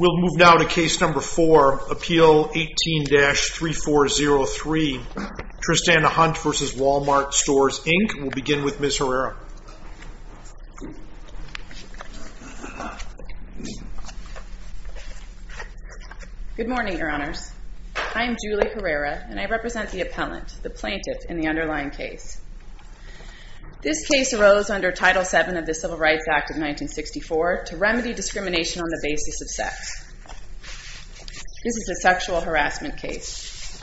We'll move now to Case Number 4, Appeal 18-3403, Tristana Hunt v. Wal-Mart Stores, Inc. We'll move now to Case Number 4, Appeal 18-3403, Tristana Hunt v. Wal-Mart Stores, Inc. Good morning, Your Honors. I am Julie Herrera, and I represent the appellant, the plaintiff, in the underlying case. This case arose under Title VII of the Civil Rights Act of 1964 to remedy discrimination on the basis of sex. This is a sexual harassment case.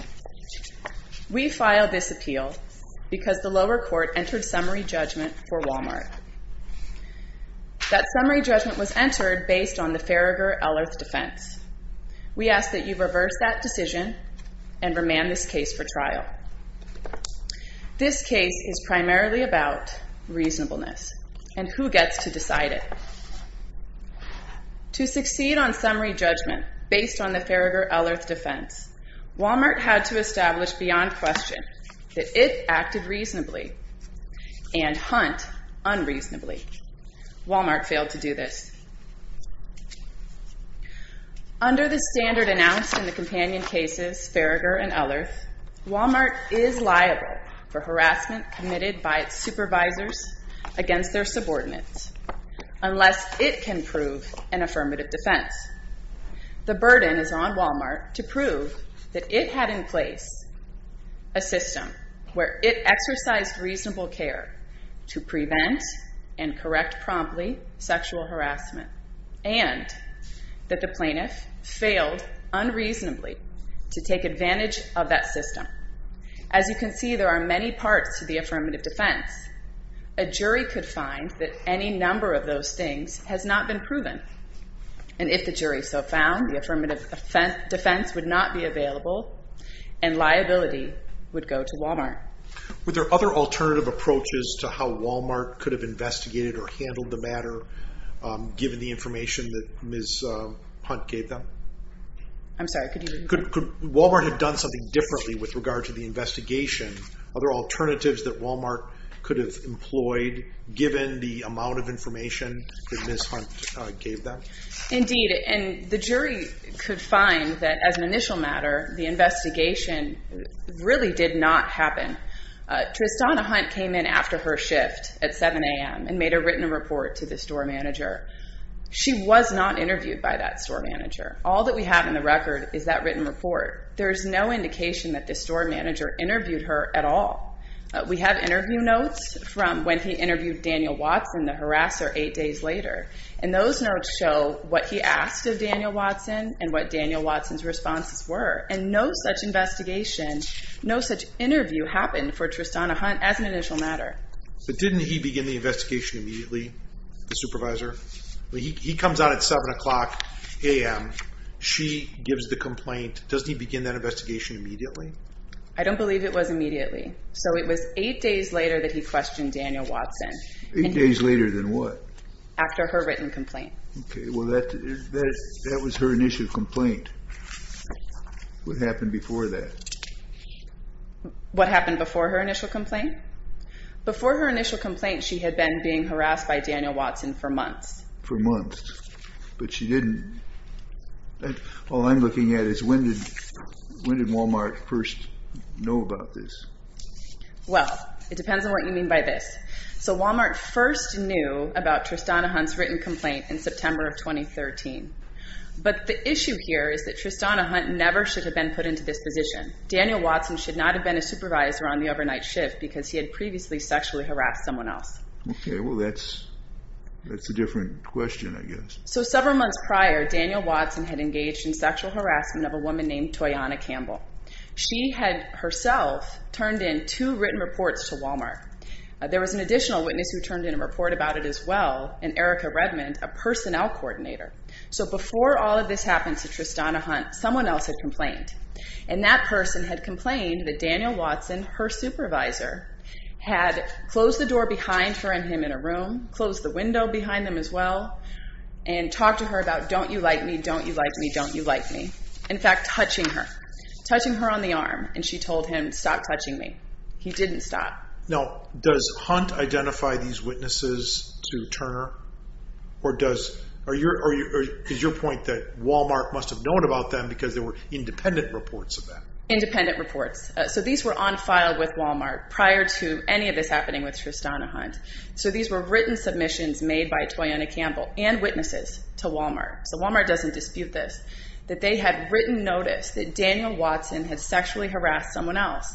We filed this appeal because the lower court entered summary judgment for Wal-Mart. That summary judgment was entered based on the Farragher-Ellerth defense. We ask that you reverse that decision and remand this case for trial. This case is primarily about reasonableness and who gets to decide it. To succeed on summary judgment based on the Farragher-Ellerth defense, Wal-Mart had to establish beyond question that it acted reasonably and Hunt unreasonably. Wal-Mart failed to do this. Under the standard announced in the companion cases, Farragher and Ellerth, Wal-Mart is liable for harassment committed by its supervisors against their subordinates unless it can prove an affirmative defense. The burden is on Wal-Mart to prove that it had in place a system where it exercised reasonable care to prevent and correct promptly sexual harassment and that the plaintiff failed unreasonably to take advantage of that system. As you can see, there are many parts to the affirmative defense. A jury could find that any number of those things has not been proven. And if the jury so found the affirmative defense would not be available, and liability would go to Wal-Mart. Are there other alternative approaches to how Wal-Mart could have investigated or handled the matter given the information that Ms. Hunt gave them? I'm sorry, could you repeat that? Could Wal-Mart have done something differently with regard to the investigation? Are there alternatives that Wal-Mart could have employed given the amount of information that Ms. Hunt gave them? Indeed, and the jury could find that as an initial matter, the investigation really did not happen. Tristana Hunt came in after her shift at 7 a.m. and made a written report to the store manager. She was not interviewed by that store manager. All that we have in the record is that written report. There's no indication that the store manager interviewed her at all. We have interview notes from when he interviewed Daniel Watson, the harasser, eight days later. And those notes show what he asked of Daniel Watson and what Daniel Watson's responses were. And no such investigation, no such interview happened for Tristana Hunt as an initial matter. But didn't he begin the investigation immediately, the supervisor? He comes out at 7 a.m., she gives the complaint. Doesn't he begin that investigation immediately? I don't believe it was immediately. So it was eight days later that he questioned Daniel Watson. Eight days later than what? After her written complaint. Okay. Well, that was her initial complaint. What happened before that? What happened before her initial complaint? Before her initial complaint, she had been being harassed by Daniel Watson for months. For months. But she didn't. All I'm looking at is when did Walmart first know about this? Well, it depends on what you mean by this. So Walmart first knew about Tristana Hunt's written complaint in September of 2013. But the issue here is that Tristana Hunt never should have been put into this position. Daniel Watson should not have been a supervisor on the overnight shift because he had previously sexually harassed someone else. Okay. Well, that's a different question, I guess. So several months prior, Daniel Watson had engaged in sexual harassment of a woman named two written reports to Walmart. There was an additional witness who turned in a report about it as well, an Erica Redmond, a personnel coordinator. So before all of this happened to Tristana Hunt, someone else had complained. And that person had complained that Daniel Watson, her supervisor, had closed the door behind her and him in a room, closed the window behind them as well, and talked to her about, don't you like me? Don't you like me? Don't you like me? In fact, touching her. Touching her on the arm. And she told him, stop touching me. He didn't stop. Now, does Hunt identify these witnesses to Turner? Or does, are you, or is your point that Walmart must have known about them because there were independent reports of that? Independent reports. So these were on file with Walmart prior to any of this happening with Tristana Hunt. So these were written submissions made by Toyanna Campbell and witnesses to Walmart. So Walmart doesn't dispute this, that they had written notice that Daniel Watson had sexually harassed someone else.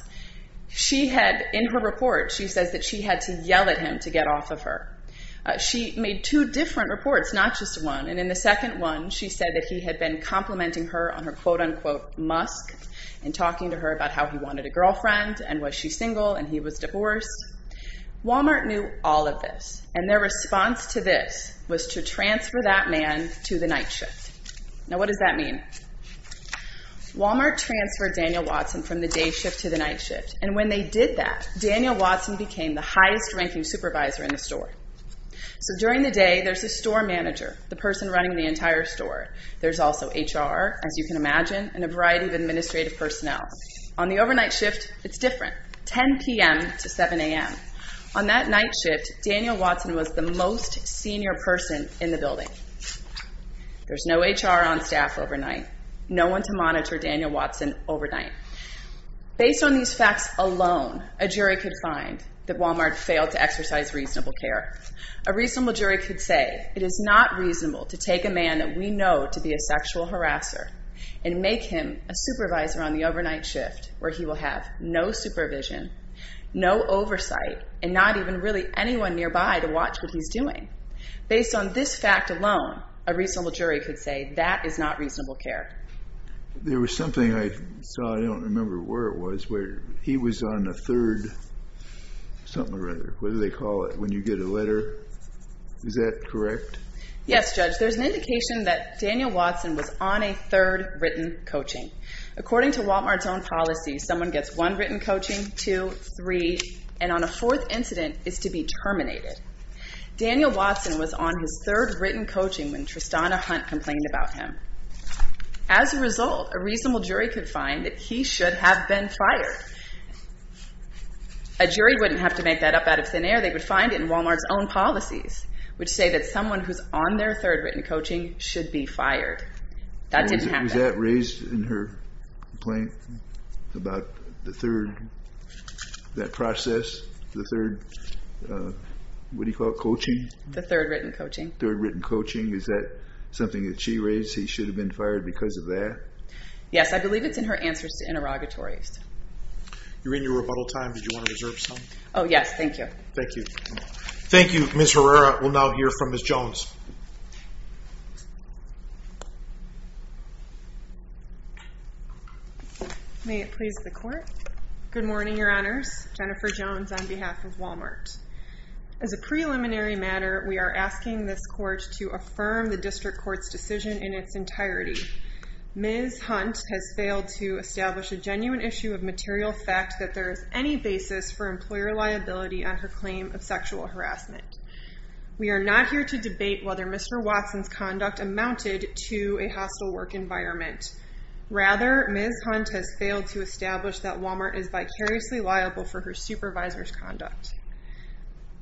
She had, in her report, she says that she had to yell at him to get off of her. She made two different reports, not just one. And in the second one, she said that he had been complimenting her on her quote unquote musk and talking to her about how he wanted a girlfriend and was she single and he was divorced. Walmart knew all of this. And their response to this was to transfer that man to the night shift. Now, what does that mean? Walmart transferred Daniel Watson from the day shift to the night shift. And when they did that, Daniel Watson became the highest ranking supervisor in the store. So during the day, there's a store manager, the person running the entire store. There's also HR, as you can imagine, and a variety of administrative personnel. On the overnight shift, it's different. 10 p.m. to 7 a.m. On that night shift, Daniel Watson was the most senior person in the building. There's no HR on staff overnight, no one to monitor Daniel Watson overnight. Based on these facts alone, a jury could find that Walmart failed to exercise reasonable care. A reasonable jury could say it is not reasonable to take a man that we know to be a sexual harasser and make him a supervisor on the overnight shift where he will have no supervision, no oversight, and not even really anyone nearby to watch what he's doing. Based on this fact alone, a reasonable jury could say that is not reasonable care. There was something I saw, I don't remember where it was, where he was on the third something or other, what do they call it, when you get a letter? Is that correct? Yes, Judge. There's an indication that Daniel Watson was on a third written coaching. According to Walmart's own policy, someone gets one written coaching, two, three, and on a fourth incident is to be terminated. Daniel Watson was on his third written coaching when Tristana Hunt complained about him. As a result, a reasonable jury could find that he should have been fired. A jury wouldn't have to make that up out of thin air. They would find it in Walmart's own policies, which say that someone who's on their third written coaching should be fired. That didn't happen. Was that raised in her complaint about the third, that process, the third, what do you call it, coaching? The third written coaching. Third written coaching. Is that something that she raised, he should have been fired because of that? Yes, I believe it's in her answers to interrogatories. You're in your rebuttal time. Did you want to reserve some? Oh yes, thank you. Thank you. Thank you, Ms. Herrera. We'll now hear from Ms. Jones. May it please the court. Good morning, your honors. Jennifer Jones on behalf of Walmart. As a preliminary matter, we are asking this court to affirm the district court's decision in its entirety. Ms. Hunt has failed to establish a genuine issue of material fact that there is any basis for employer liability on her claim of sexual harassment. We are not here to debate whether Mr. Watson's conduct amounted to a hostile work environment. Rather, Ms. Hunt has failed to establish that Walmart is vicariously liable for her supervisor's conduct.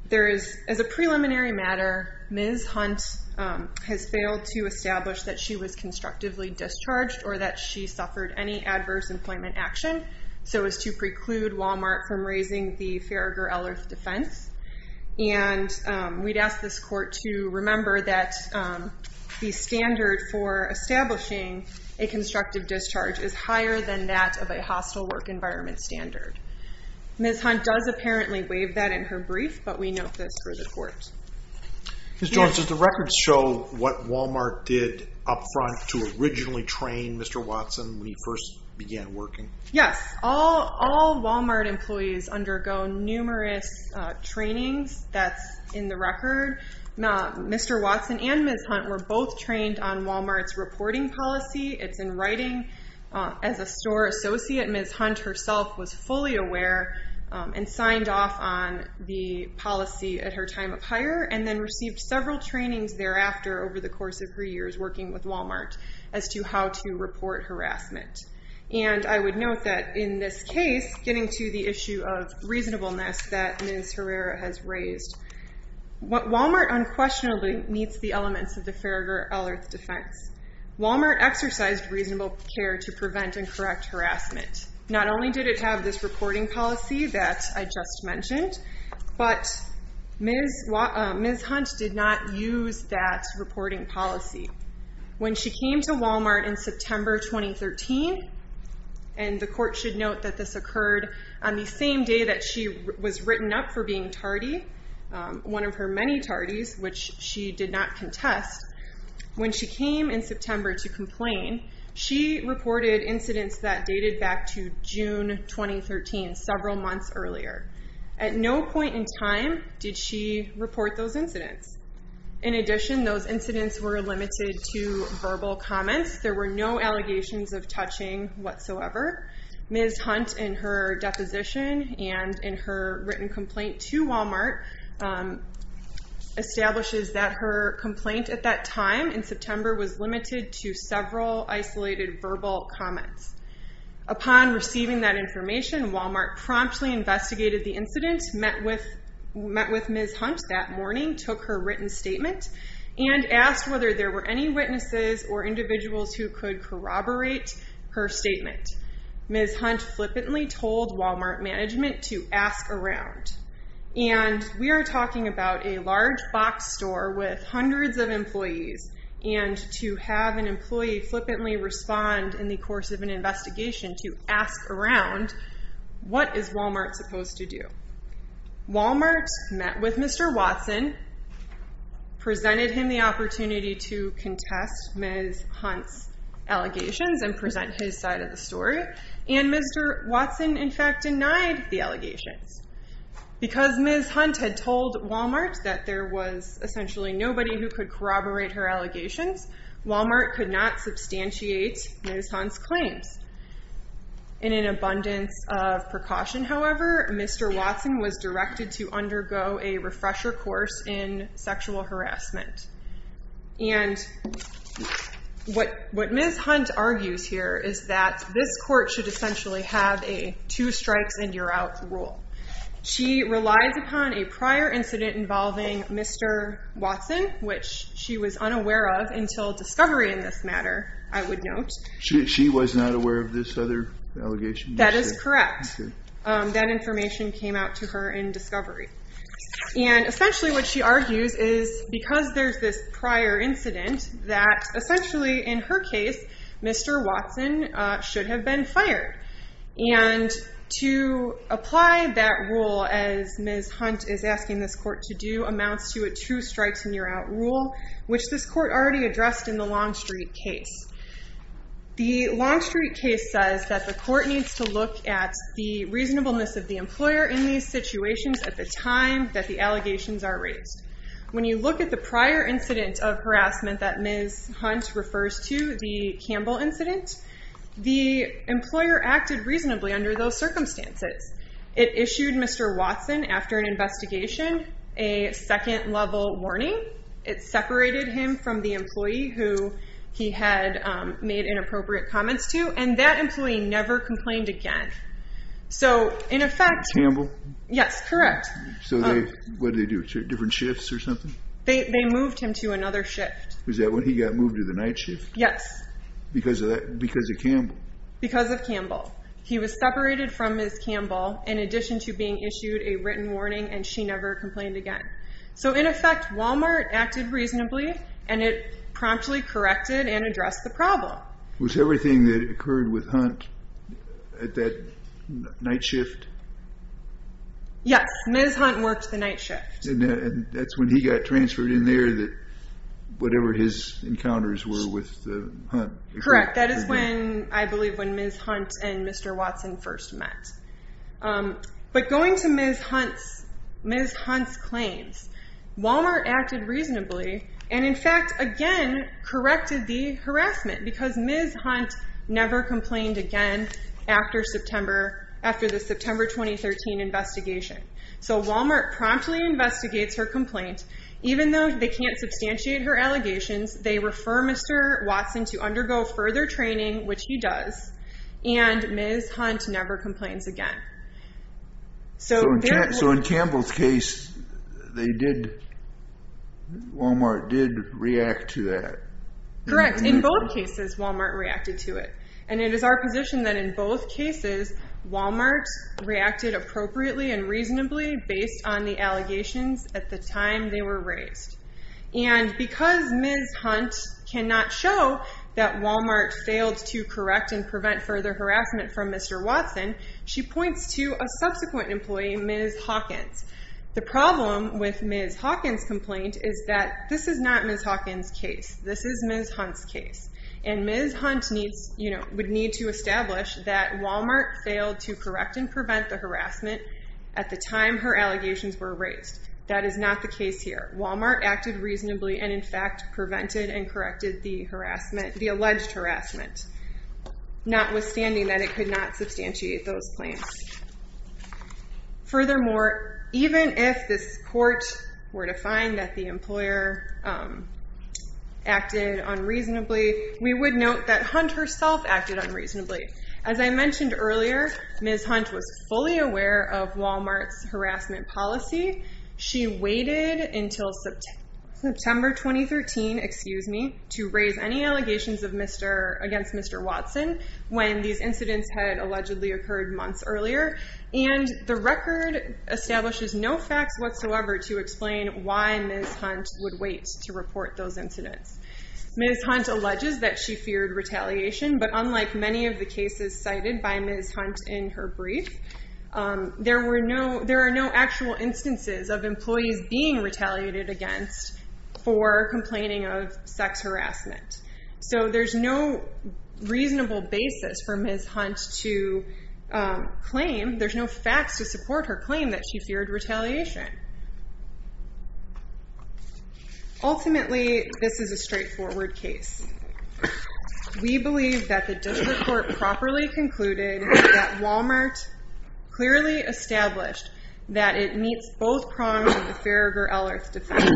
There is, as a preliminary matter, Ms. Hunt has failed to establish that she was constructively discharged or that she suffered any adverse employment action so as to preclude Walmart from raising the Farragher-Ellerth defense. And we'd ask this court to remember that the standard for establishing a constructive discharge is higher than that of a hostile work environment standard. Ms. Hunt does apparently waive that in her brief, but we note this for the court. Ms. Jones, does the records show what Walmart did up front to originally train Mr. Watson when he first began working? Yes. All Walmart employees undergo numerous trainings. That's in the record. Mr. Watson and Ms. Hunt were both trained on Walmart's reporting policy. It's in writing. As a store associate, Ms. Hunt herself was fully aware and signed off on the policy at her time of hire and then received several trainings thereafter over the course of her years working with Note that in this case, getting to the issue of reasonableness that Ms. Herrera has raised, Walmart unquestionably meets the elements of the Farragher-Ellerth defense. Walmart exercised reasonable care to prevent and correct harassment. Not only did it have this reporting policy that I just mentioned, but Ms. Hunt did not use that reporting policy. When she came to Walmart in September 2013, and the court should note that this occurred on the same day that she was written up for being tardy, one of her many tardies, which she did not contest. When she came in September to complain, she reported incidents that dated back to June 2013, several months earlier. At no point in time did she report those incidents. In addition, those incidents were limited to verbal comments. There were no allegations of touching whatsoever. Ms. Hunt, in her deposition and in her written complaint to Walmart, establishes that her complaint at that time in September was limited to several isolated verbal comments. Upon receiving that information, Walmart promptly investigated the written statement and asked whether there were any witnesses or individuals who could corroborate her statement. Ms. Hunt flippantly told Walmart management to ask around. And we are talking about a large box store with hundreds of employees, and to have an employee flippantly respond in the course of an investigation to ask around, what is Mr. Watson presented him the opportunity to contest Ms. Hunt's allegations and present his side of the story. And Mr. Watson, in fact, denied the allegations. Because Ms. Hunt had told Walmart that there was essentially nobody who could corroborate her allegations, Walmart could not substantiate Ms. Hunt's claims. In an abundance of precaution, however, Mr. Watson did not express recourse in sexual harassment. And what Ms. Hunt argues here is that this court should essentially have a two strikes and you're out rule. She relies upon a prior incident involving Mr. Watson, which she was unaware of until discovery in this matter, I would note. She was not aware of this other allegation? That is correct. That information came out to her in discovery. And essentially what she argues is because there's this prior incident, that essentially in her case, Mr. Watson should have been fired. And to apply that rule as Ms. Hunt is asking this court to do amounts to a two strikes and you're out rule, which this court already addressed in the Longstreet case. The Longstreet case says that the court needs to look at the situations at the time that the allegations are raised. When you look at the prior incident of harassment that Ms. Hunt refers to, the Campbell incident, the employer acted reasonably under those circumstances. It issued Mr. Watson, after an investigation, a second level warning. It separated him from the employee who he had made inappropriate comments to and that employee never complained again. So in effect... Campbell? Yes, correct. So what did they do? Different shifts or something? They moved him to another shift. Was that when he got moved to the night shift? Yes. Because of Campbell? Because of Campbell. He was separated from Ms. Campbell in addition to being issued a written warning and she never complained again. So in effect, Walmart acted reasonably and it promptly corrected and addressed the problem. Was everything that occurred with Hunt at that night shift? Yes. Ms. Hunt worked the night shift. And that's when he got transferred in there that whatever his encounters were with Hunt. Correct. That is when, I believe, when Ms. Hunt and Mr. Watson first met. But going to Ms. Hunt's claims, Walmart acted reasonably and in fact, again, corrected the harassment because Ms. Hunt never complained again after the September 2013 investigation. So Walmart promptly investigates her complaint. Even though they can't substantiate her allegations, they refer Mr. Watson to us again. So in Campbell's case, Walmart did react to that? Correct. In both cases, Walmart reacted to it. And it is our position that in both cases, Walmart reacted appropriately and reasonably based on the allegations at the time they were raised. And because Ms. Hunt cannot show that Walmart failed to correct and prevent further harassment from Mr. Watson, she points to a subsequent employee, Ms. Hawkins. The problem with Ms. Hawkins' complaint is that this is not Ms. Hawkins' case. This is Ms. Hunt's case. And Ms. Hunt would need to establish that Walmart failed to correct and prevent the harassment at the time her allegations were raised. That is not the case here. Walmart acted reasonably and in fact, prevented and corrected the alleged harassment, notwithstanding that it could not substantiate those claims. Furthermore, even if this court were to find that the employer acted unreasonably, we would note that Hunt herself acted unreasonably. As I mentioned earlier, Ms. Hunt was fully aware of Walmart's harassment policy. She waited until September 2013, excuse me, to raise any allegations against Mr. Watson when these incidents had allegedly occurred months earlier. And the record establishes no facts whatsoever to explain why Ms. Hunt would wait to report those incidents. Ms. Hunt alleges that she feared retaliation, but unlike many of the cases cited by Ms. Hunt in her brief, there are no actual instances of employees being retaliated against for complaining of sex harassment. So there's no reasonable basis for Ms. Hunt to claim, there's no facts to support her claim that she feared retaliation. Ultimately, this is a straightforward case. We believe that the district court properly concluded that Walmart clearly established that it meets both prongs of the Farragher-Ellert defense,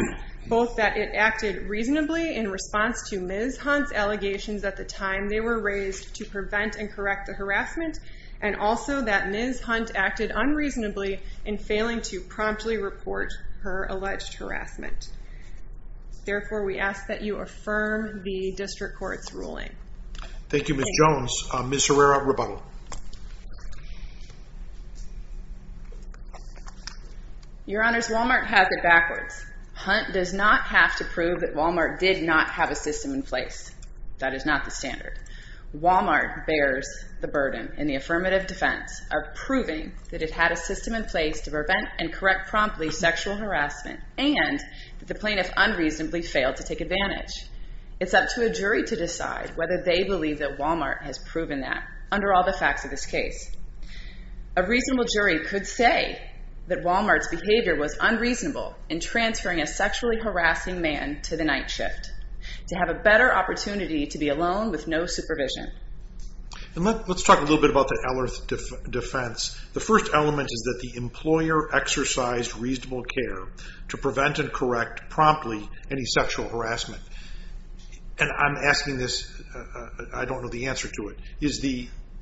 both that it acted reasonably in response to Ms. Hunt's allegations at the time they were raised to prevent and correct the harassment, and also that Ms. Hunt acted unreasonably in failing to promptly report her alleged harassment. Therefore, we ask that you affirm the district court's ruling. Thank you, Ms. Jones. Ms. Herrera, rebuttal. Your Honors, Walmart has it backwards. Hunt does not have to prove that Walmart did not have a system in place. That is not the standard. Walmart bears the burden in the affirmative defense of proving that it had a system in place to prevent and correct harassment, but they believe that Walmart has proven that under all the facts of this case. A reasonable jury could say that Walmart's behavior was unreasonable in transferring a sexually harassing man to the night shift to have a better opportunity to be alone with no supervision. And let's talk a little bit about the Ellert defense. The first element is that the employer exercised reasonable care to prevent and correct promptly any sexual harassment. And I'm asking this, I don't know the answer to it. Is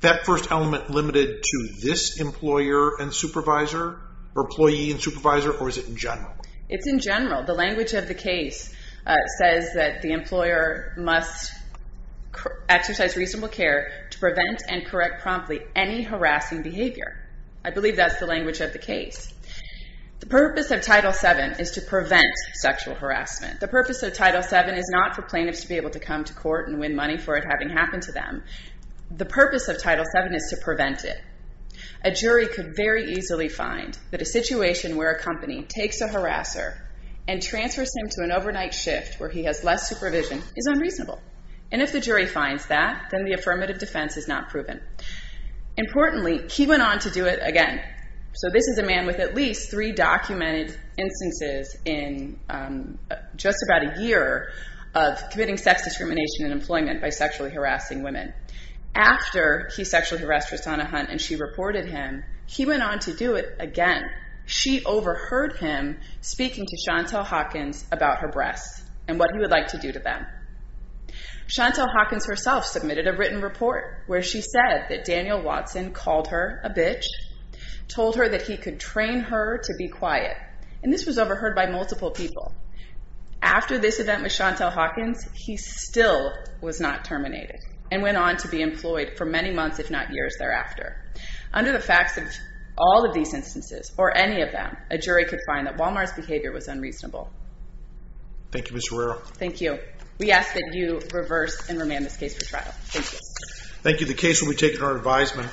that first element limited to this employer and supervisor, or employee and supervisor, or is it in general? It's in general. The language of the case says that the employer must exercise reasonable care to prevent and correct promptly any harassment. The purpose of Title VII is not for plaintiffs to be able to come to court and win money for it having happened to them. The purpose of Title VII is to prevent it. A jury could very easily find that a situation where a company takes a harasser and transfers him to an overnight shift where he has less supervision is unreasonable. And if the jury finds that, then the affirmative defense is not proven. Importantly, he went on to do it again. So this is a man with at least three documented instances in just about a year of committing sex discrimination in employment by sexually harassing women. After he sexually harassed Rosanna Hunt and she reported him, he went on to do it again. She overheard him speaking to Chantal Hawkins about her breasts and what he would like to do to them. Chantal Hawkins herself submitted a written report where she said that Daniel Watson called her a bitch, told her that he could train her to be quiet. And this was overheard by multiple people. After this event with Chantal Hawkins, he still was not terminated and went on to be employed for many months, if not years thereafter. Under the facts of all of these instances, or any of them, a jury could find that Walmart's behavior was unreasonable. Thank you, Ms. Arroyo. Thank you. We ask that you reverse and remand this case for trial. Thank you. Thank you. The case will be taken to our advisement.